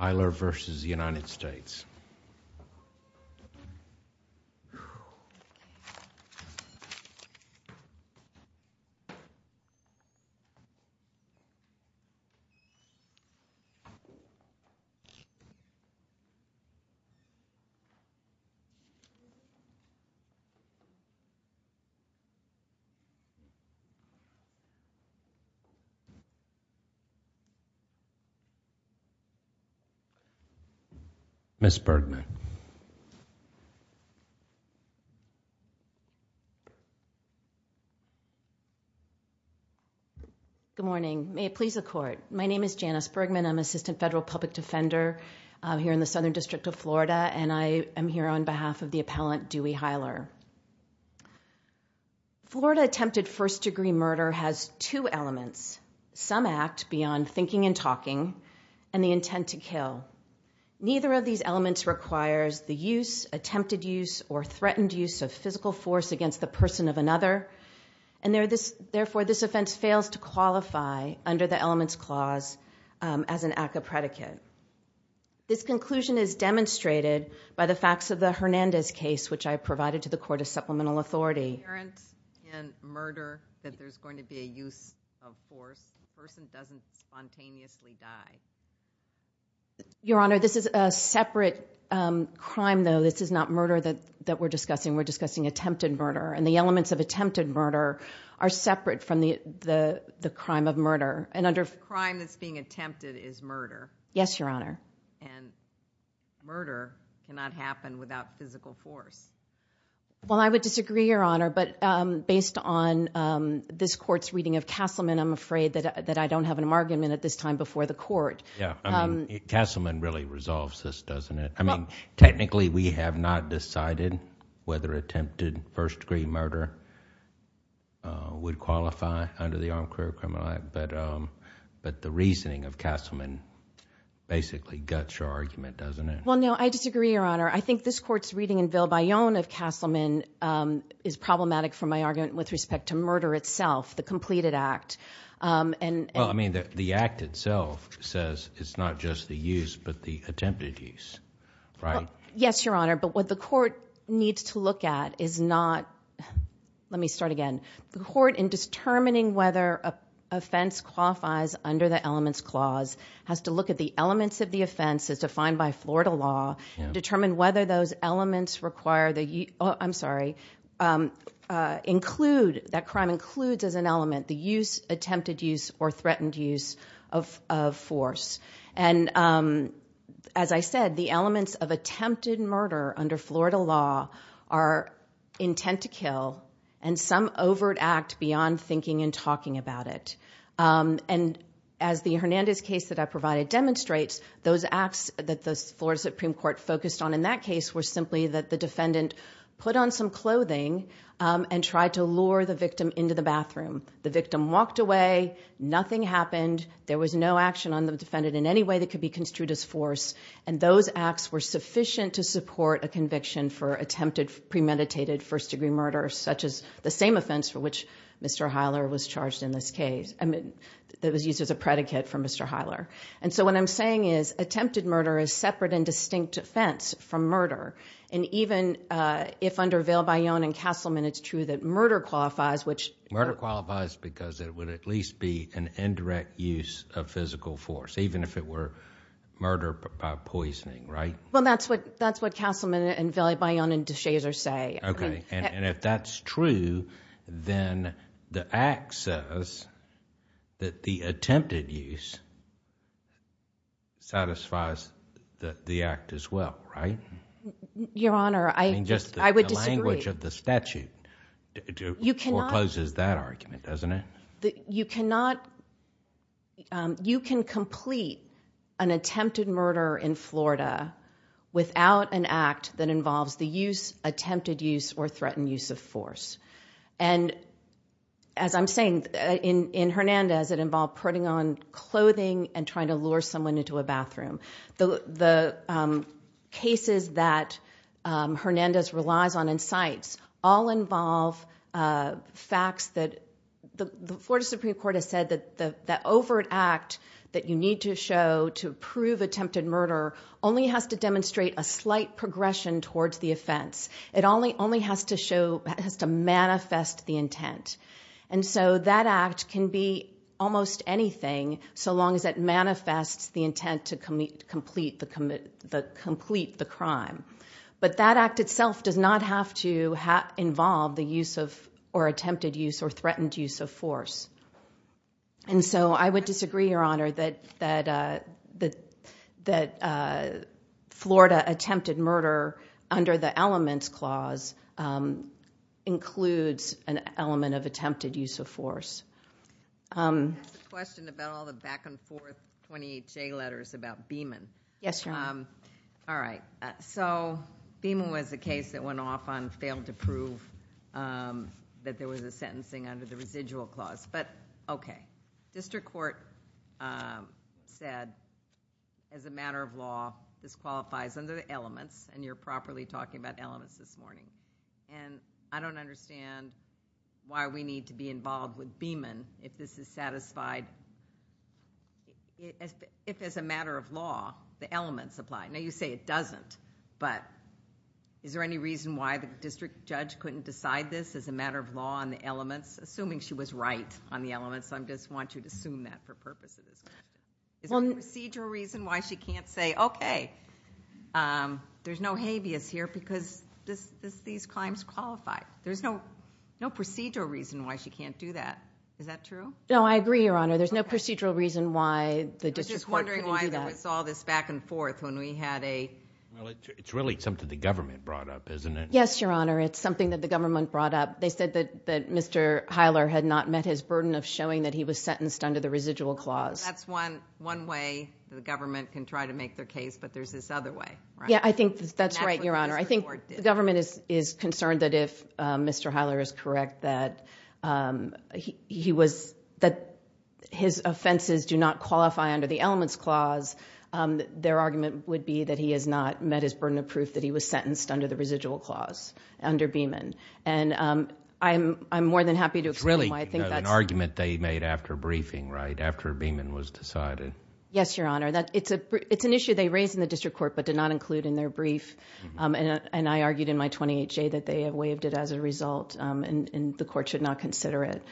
Hylor v. United States Janice Bergman, Assistant Federal Public Defender, Appellant Dewey Hylor Florida attempted first degree murder has two elements, some act beyond thinking and talking, and the intent to kill. Neither of these elements requires the use, attempted use, or threatened use of physical force against the person of another, and therefore this offense fails to qualify under the Elements Clause as an act of predicate. This conclusion is demonstrated by the facts of the Hernandez case, which I provided to the Court of Supplemental Authority. Your Honor, this is a separate crime, though. This is not murder that we're discussing. We're discussing attempted murder, and the elements of attempted murder are separate from the crime of murder. The crime that's being attempted is murder. Yes, Your Honor. And murder cannot happen without physical force. Well, I would disagree, Your Honor, but based on this Court's reading of Castleman, I'm afraid that I don't have an argument at this time before the Court. Yeah, I mean, Castleman really resolves this, doesn't it? I mean, technically we have not decided whether attempted first degree murder would qualify under the Armed Career Criminal Act, but the reasoning of Castleman basically guts your argument, doesn't it? Well, no, I disagree, Your Honor. I think this Court's reading in Ville-Bayonne of Castleman is problematic for my argument with respect to murder itself, the completed act. Well, I mean, the act itself says it's not just the use but the attempted use, right? Yes, Your Honor, but what the Court needs to look at is not—let me start again. The Court, in determining whether offense qualifies under the Elements Clause, has to look at the elements of the offense as defined by Florida law, determine whether those elements require the—I'm sorry, include, that crime includes as an element the use, attempted use, or threatened use of force. And as I said, the elements of attempted murder under Florida law are intent to kill and some overt act beyond thinking and talking about it. And as the Hernandez case that I provided demonstrates, those acts that the Florida Supreme Court focused on in that case were simply that the defendant put on some clothing and tried to lure the victim into the bathroom. The victim walked away, nothing happened, there was no action on the defendant in any way that could be construed as force, and those acts were sufficient to support a conviction for attempted premeditated first-degree murder, such as the same offense for which Mr. Heiler was charged in this case, that was used as a predicate for Mr. Heiler. And so what I'm saying is attempted murder is separate and distinct offense from murder. And even if under Ville-Bayonne and Castleman it's true that murder qualifies, which— It qualifies because it would at least be an indirect use of physical force, even if it were murder by poisoning, right? Well, that's what Castleman and Ville-Bayonne and DeShazer say. Okay, and if that's true, then the act says that the attempted use satisfies the act as well, right? Your Honor, I would disagree. The language of the statute forecloses that argument, doesn't it? You cannot—you can complete an attempted murder in Florida without an act that involves the use, attempted use, or threatened use of force. And as I'm saying, in Hernandez it involved putting on clothing and trying to lure someone into a bathroom. The cases that Hernandez relies on in cites all involve facts that the Florida Supreme Court has said that the overt act that you need to show to prove attempted murder only has to demonstrate a slight progression towards the offense. It only has to manifest the intent. And so that act can be almost anything so long as it manifests the intent to complete the crime. But that act itself does not have to involve the use of—or attempted use or threatened use of force. And so I would disagree, Your Honor, that Florida attempted murder under the elements clause includes an element of attempted use of force. I have a question about all the back and forth 28J letters about Beeman. Yes, Your Honor. All right. So, Beeman was a case that went off on failed to prove that there was a sentencing under the residual clause. But, okay. District Court said, as a matter of law, this qualifies under the elements, and you're properly talking about elements this morning. And I don't understand why we need to be involved with Beeman if this is satisfied, if as a matter of law, the elements apply. Now, you say it doesn't, but is there any reason why the district judge couldn't decide this as a matter of law on the elements, assuming she was right on the elements? I just want you to assume that for purposes. Is there a procedural reason why she can't say, okay, there's no habeas here because these claims qualify? There's no procedural reason why she can't do that. Is that true? No, I agree, Your Honor. There's no procedural reason why the district court couldn't do that. I was just wondering why there was all this back and forth when we had a— Well, it's really something the government brought up, isn't it? Yes, Your Honor. It's something that the government brought up. They said that Mr. Heiler had not met his burden of showing that he was sentenced under the residual clause. That's one way the government can try to make their case, but there's this other way, right? Yeah, I think that's right, Your Honor. I think the government is concerned that if Mr. Heiler is correct that his offenses do not qualify under the elements clause, their argument would be that he has not met his burden of proof that he was sentenced under the residual clause under Beeman. I'm more than happy to explain why I think that's... It's really an argument they made after briefing, right, after Beeman was decided. Yes, Your Honor. It's an issue they raised in the district court but did not include in their brief. I argued in my 28-J that they waived it as a result and the court should not consider it.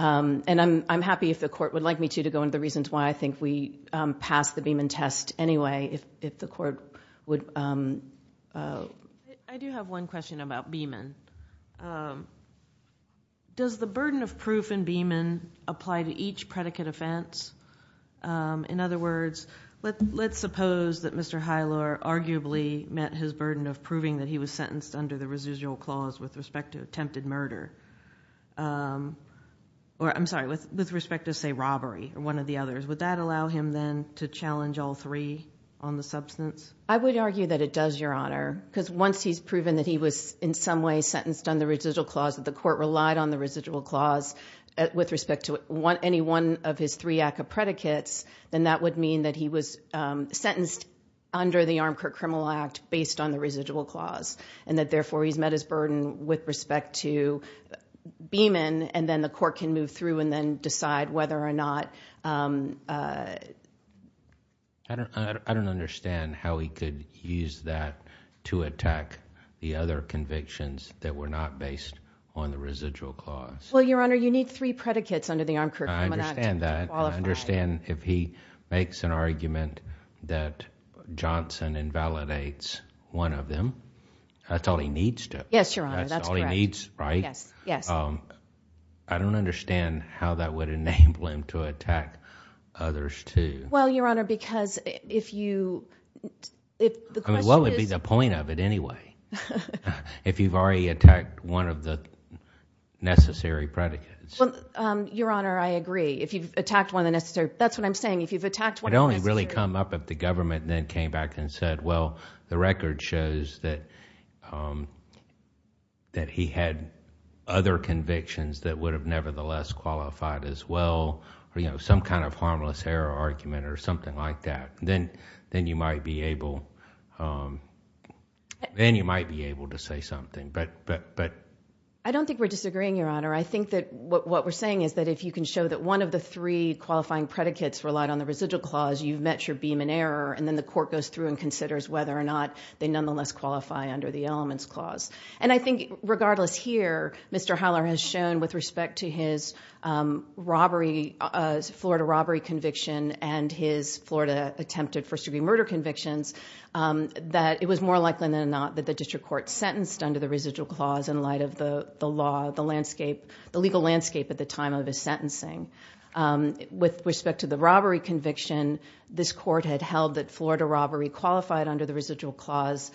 I'm happy if the court would like me to go into the reasons why I think we passed the Beeman test anyway if the court would... I do have one question about Beeman. Does the burden of proof in Beeman apply to each predicate offense? In other words, let's suppose that Mr. Heiler arguably met his burden of proving that he was sentenced under the residual clause with respect to attempted murder. I'm sorry, with respect to, say, robbery or one of the others. Would that allow him then to challenge all three on the substance? I would argue that it does, Your Honor, because once he's proven that he was in some way sentenced under the residual clause, that the court relied on the residual clause with respect to any one of his three ACCA predicates, then that would mean that he was sentenced under the Armcourt Criminal Act based on the residual clause and that therefore he's met his burden with respect to Beeman and then the court can move through and then decide whether or not... I don't understand how he could use that to attack the other convictions that were not based on the residual clause. Well, Your Honor, you need three predicates under the Armcourt Criminal Act... I understand that.... to qualify. I understand if he makes an argument that Johnson invalidates one of them, that's all he needs to. Yes, Your Honor, that's correct. That's all he needs, right? Yes, yes. I don't understand how that would enable him to attack others too. Well, Your Honor, because if you... I mean, what would be the point of it anyway if you've already attacked one of the necessary predicates? Well, Your Honor, I agree. If you've attacked one of the necessary... that's what I'm saying. If you've attacked one of the necessary... It would only really come up if the government then came back and said, well, the record shows that he had other convictions that would have nevertheless qualified as well, some kind of harmless error argument or something like that. Then you might be able to say something, but... I don't think we're disagreeing, Your Honor. I think that what we're saying is that if you can show that one of the three qualifying predicates relied on the residual clause, you've met your beam in error, and then the court goes through and considers whether or not they nonetheless qualify under the elements clause. I think regardless here, Mr. Howler has shown with respect to his Florida robbery conviction and his Florida attempted first-degree murder convictions, that it was more likely than not that the district court sentenced under the residual clause in light of the law, the legal landscape at the time of his sentencing. With respect to the robbery conviction, this court had held that Florida robbery qualified under the residual clause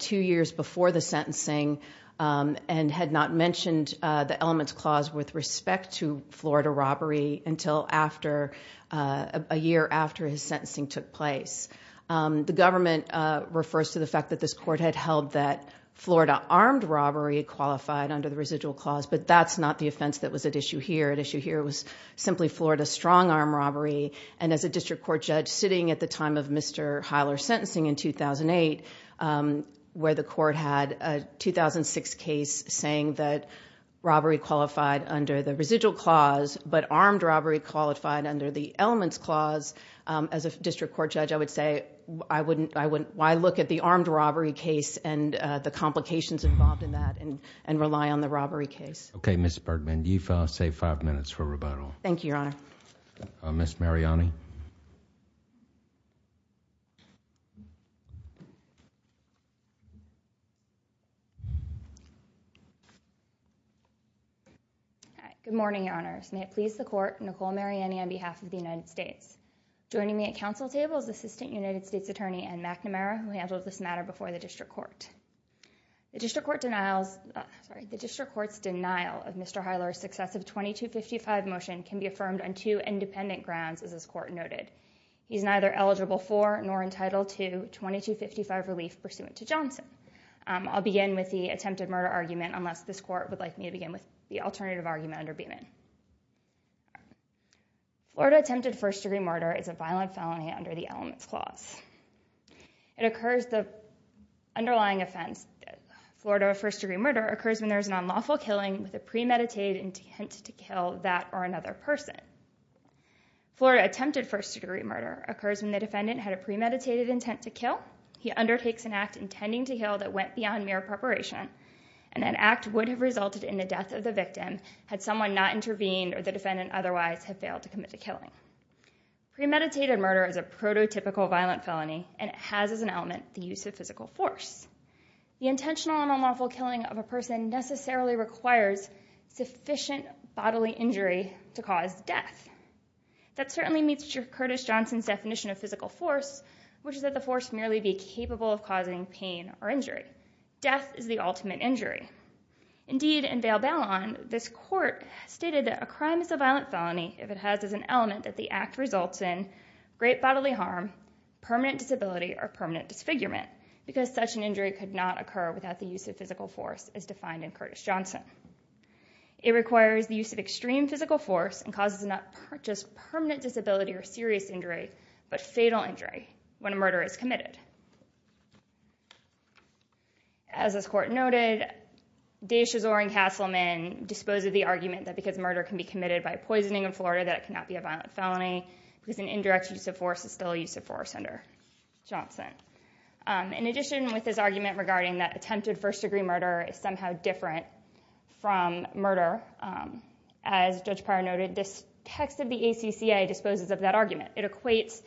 two years before the sentencing and had not mentioned the elements clause with respect to Florida robbery until a year after his sentencing took place. The government refers to the fact that this court had held that Florida armed robbery qualified under the residual clause, but that's not the offense that was at issue here. At issue here was simply Florida strong-arm robbery, and as a district court judge sitting at the time of Mr. Howler's sentencing in 2008, where the court had a 2006 case saying that robbery qualified under the residual clause, but armed robbery qualified under the elements clause, as a district court judge, I would say, why look at the armed robbery case and the complications involved in that and rely on the robbery case? Okay, Ms. Bergman, you've saved five minutes for rebuttal. Thank you, Your Honor. Ms. Mariani. Good morning, Your Honors. May it please the court, Nicole Mariani on behalf of the United States. Joining me at council table is Assistant United States Attorney Ann McNamara, who handled this matter before the district court. The district court's denial of Mr. Howler's successive 2255 motion can be affirmed on two independent grounds, as this court noted. He's neither eligible for nor entitled to 2255 relief pursuant to Johnson. I'll begin with the attempted murder argument, unless this court would like me to begin with the alternative argument under Beamon. Florida attempted first-degree murder is a violent felony under the elements clause. It occurs, the underlying offense, Florida first-degree murder, occurs when there is an unlawful killing with a premeditated intent to kill that or another person. Florida attempted first-degree murder occurs when the defendant had a premeditated intent to kill, he undertakes an act intending to kill that went beyond mere preparation, and that act would have resulted in the death of the victim had someone not intervened or the defendant otherwise had failed to commit the killing. Premeditated murder is a prototypical violent felony, and it has as an element the use of physical force. The intentional and unlawful killing of a person necessarily requires sufficient bodily injury to cause death. That certainly meets Curtis Johnson's definition of physical force, which is that the force merely be capable of causing pain or injury. Death is the ultimate injury. Indeed, in Vail Ballon, this court stated that a crime is a violent felony if it has as an element that the act results in great bodily harm, permanent disability, or permanent disfigurement, because such an injury could not occur without the use of physical force as defined in Curtis Johnson. It requires the use of extreme physical force and causes not just permanent disability or serious injury, but fatal injury when a murder is committed. As this court noted, Davis Chazor and Castleman disposed of the argument that because murder can be committed by poisoning in Florida, that it cannot be a violent felony because an indirect use of force is still a use of force under Johnson. In addition with this argument regarding that attempted first-degree murder is somehow different from murder, as Judge Pryor noted, this text of the ACCA disposes of that argument. It equates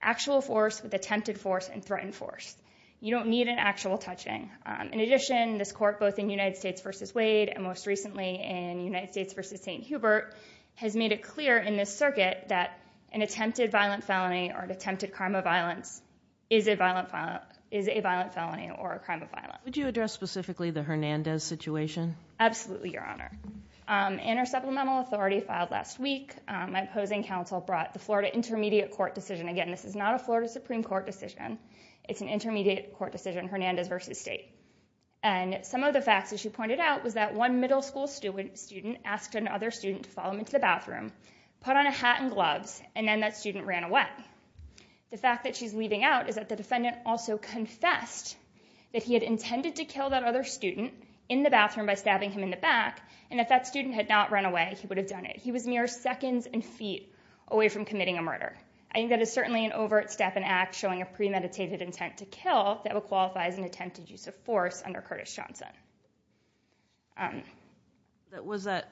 actual force with attempted force and threatened force. You don't need an actual touching. In addition, this court, both in United States v. Wade and most recently in United States v. St. Hubert, has made it clear in this circuit that an attempted violent felony or attempted crime of violence is a violent felony or a crime of violence. Would you address specifically the Hernandez situation? Absolutely, Your Honor. In our supplemental authority filed last week, my opposing counsel brought the Florida Intermediate Court decision. Again, this is not a Florida Supreme Court decision. It's an Intermediate Court decision, Hernandez v. State. Some of the facts, as she pointed out, was that one middle school student asked another student to follow him into the bathroom, put on a hat and gloves, and then that student ran away. The fact that she's leaving out is that the defendant also confessed that he had intended to kill that other student in the bathroom by stabbing him in the back, and if that student had not run away, he would have done it. He was mere seconds and feet away from committing a murder. I think that is certainly an overt step and act showing a premeditated intent to kill that would qualify as an attempted use of force under Curtis Johnson. Was that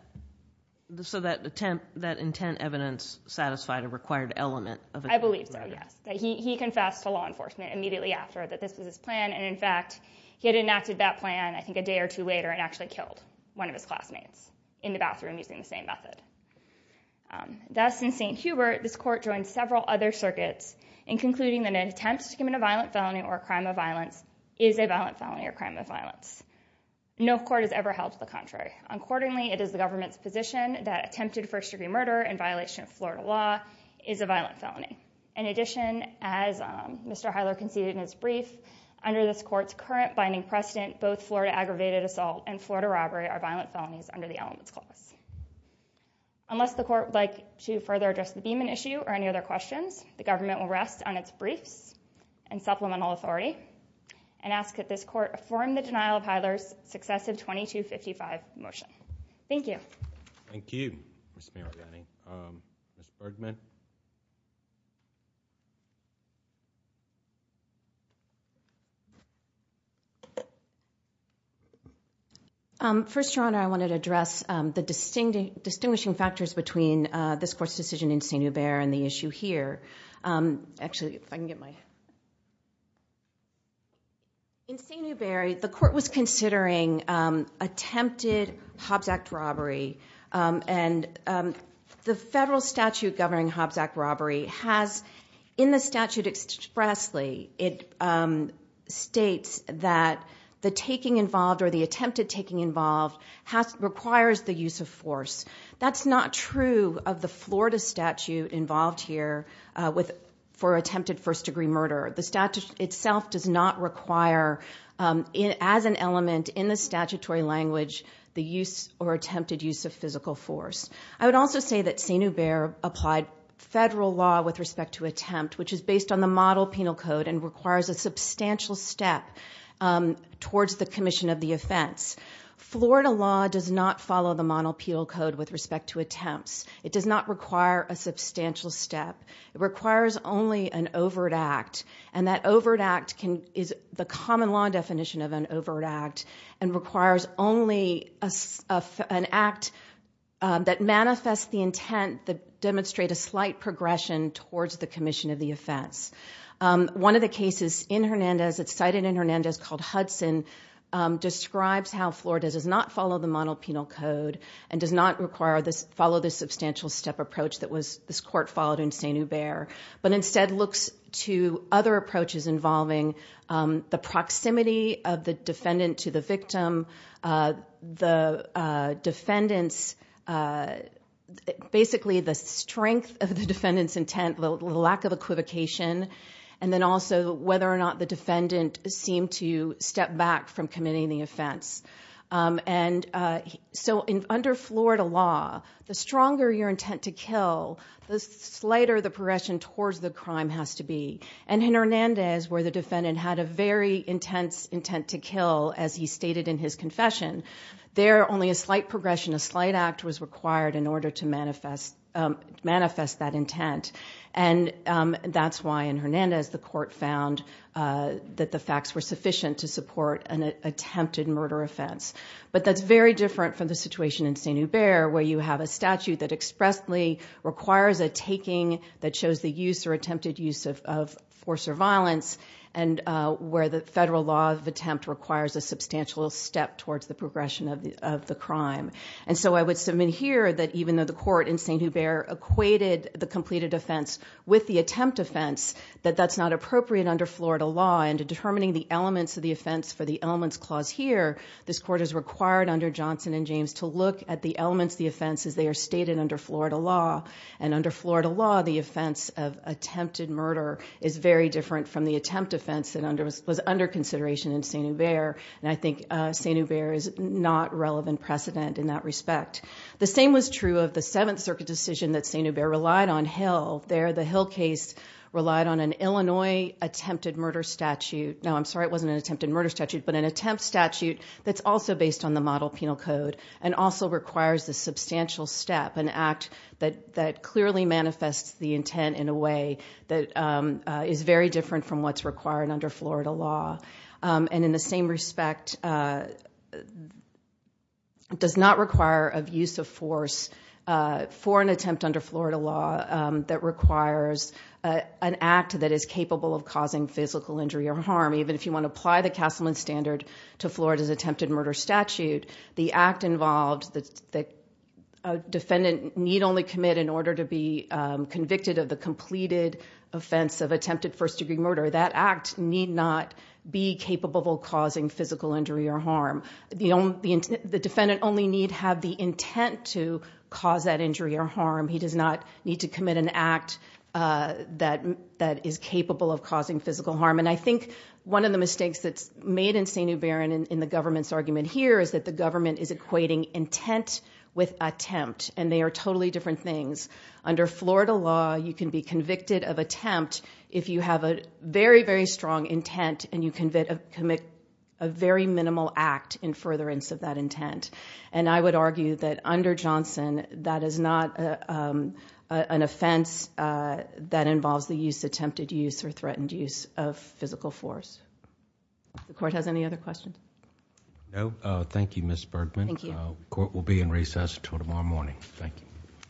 intent evidence satisfied a required element? I believe so, yes. He confessed to law enforcement immediately after that this was his plan, and in fact, he had enacted that plan I think a day or two later and actually killed one of his classmates in the bathroom using the same method. Thus, in St. Hubert, this court joined several other circuits in concluding that an attempt to commit a violent felony or a crime of violence is a violent felony or a crime of violence. No court has ever held to the contrary. Accordingly, it is the government's position that attempted first-degree murder in violation of Florida law is a violent felony. In addition, as Mr. Heidler conceded in his brief, under this court's current binding precedent, both Florida aggravated assault and Florida robbery are violent felonies under the elements clause. Unless the court would like to further address the Beeman issue or any other questions, the government will rest on its briefs and supplemental authority and ask that this court affirm the denial of Heidler's successive 2255 motion. Thank you. Thank you, Ms. Mariani. Ms. Bergman? First, Your Honor, I wanted to address the distinguishing factors between this court's decision in St. Hubert and the issue here. In St. Hubert, the court was considering attempted Hobbs Act robbery and the federal statute governing Hobbs Act robbery has, in the statute expressly, it states that the taking involved or the attempted taking involved requires the use of force. That's not true of the Florida statute involved here for attempted first-degree murder. The statute itself does not require, as an element in the statutory language, the use or attempted use of physical force. I would also say that St. Hubert applied federal law with respect to attempt, which is based on the model penal code and requires a substantial step towards the commission of the offense. Florida law does not follow the model penal code with respect to attempts. It does not require a substantial step. It requires only an overt act, and that overt act is the common law definition of an overt act and requires only an act that manifests the intent to demonstrate a slight progression towards the commission of the offense. One of the cases in Hernandez, it's cited in Hernandez, called Hudson, describes how Florida does not follow the model penal code and does not follow the substantial step approach that this court followed in St. Hubert, but instead looks to other approaches involving the proximity of the defendant to the victim, basically the strength of the defendant's intent, the lack of equivocation, and then also whether or not the defendant seemed to step back from committing the offense. So under Florida law, the stronger your intent to kill, the slighter the progression towards the crime has to be. And in Hernandez, where the defendant had a very intense intent to kill, as he stated in his confession, there only a slight progression, a slight act was required in order to manifest that intent. And that's why in Hernandez the court found that the facts were sufficient to support an attempted murder offense. But that's very different from the situation in St. Hubert, where you have a statute that expressly requires a taking that shows the use or attempted use of force or violence, and where the federal law of attempt requires a substantial step towards the progression of the crime. And so I would submit here that even though the court in St. Hubert equated the completed offense with the attempt offense, that that's not appropriate under Florida law. And determining the elements of the offense for the elements clause here, this court is required under Johnson and James to look at the elements of the offense as they are stated under Florida law. And under Florida law, the offense of attempted murder is very different from the attempt offense that was under consideration in St. Hubert. And I think St. Hubert is not relevant precedent in that respect. The same was true of the Seventh Circuit decision that St. Hubert relied on Hill. There the Hill case relied on an Illinois attempted murder statute. Now, I'm sorry it wasn't an attempted murder statute, but an attempt statute that's also based on the model penal code, and also requires the substantial step, an act that clearly manifests the intent in a way that is very different from what's required under Florida law. And in the same respect, does not require a use of force for an attempt under Florida law that requires an act that is capable of causing physical injury or harm. Even if you want to apply the Castleman Standard to Florida's attempted murder statute, the act involved that a defendant need only commit in order to be convicted of the completed offense of attempted first degree murder, that act need not be capable of causing physical injury or harm. The defendant only need have the intent to cause that injury or harm. He does not need to commit an act that is capable of causing physical harm. And I think one of the mistakes that's made in St. Hubert and in the government's argument here is that the government is equating intent with attempt. And they are totally different things. Under Florida law, you can be convicted of attempt if you have a very, very strong intent, and you commit a very minimal act in furtherance of that intent. And I would argue that under Johnson, that is not an offense that involves the use, attempted use, or threatened use of physical force. The court has any other questions? No. Thank you, Ms. Bergman. Thank you. Court will be in recess until tomorrow morning. Thank you.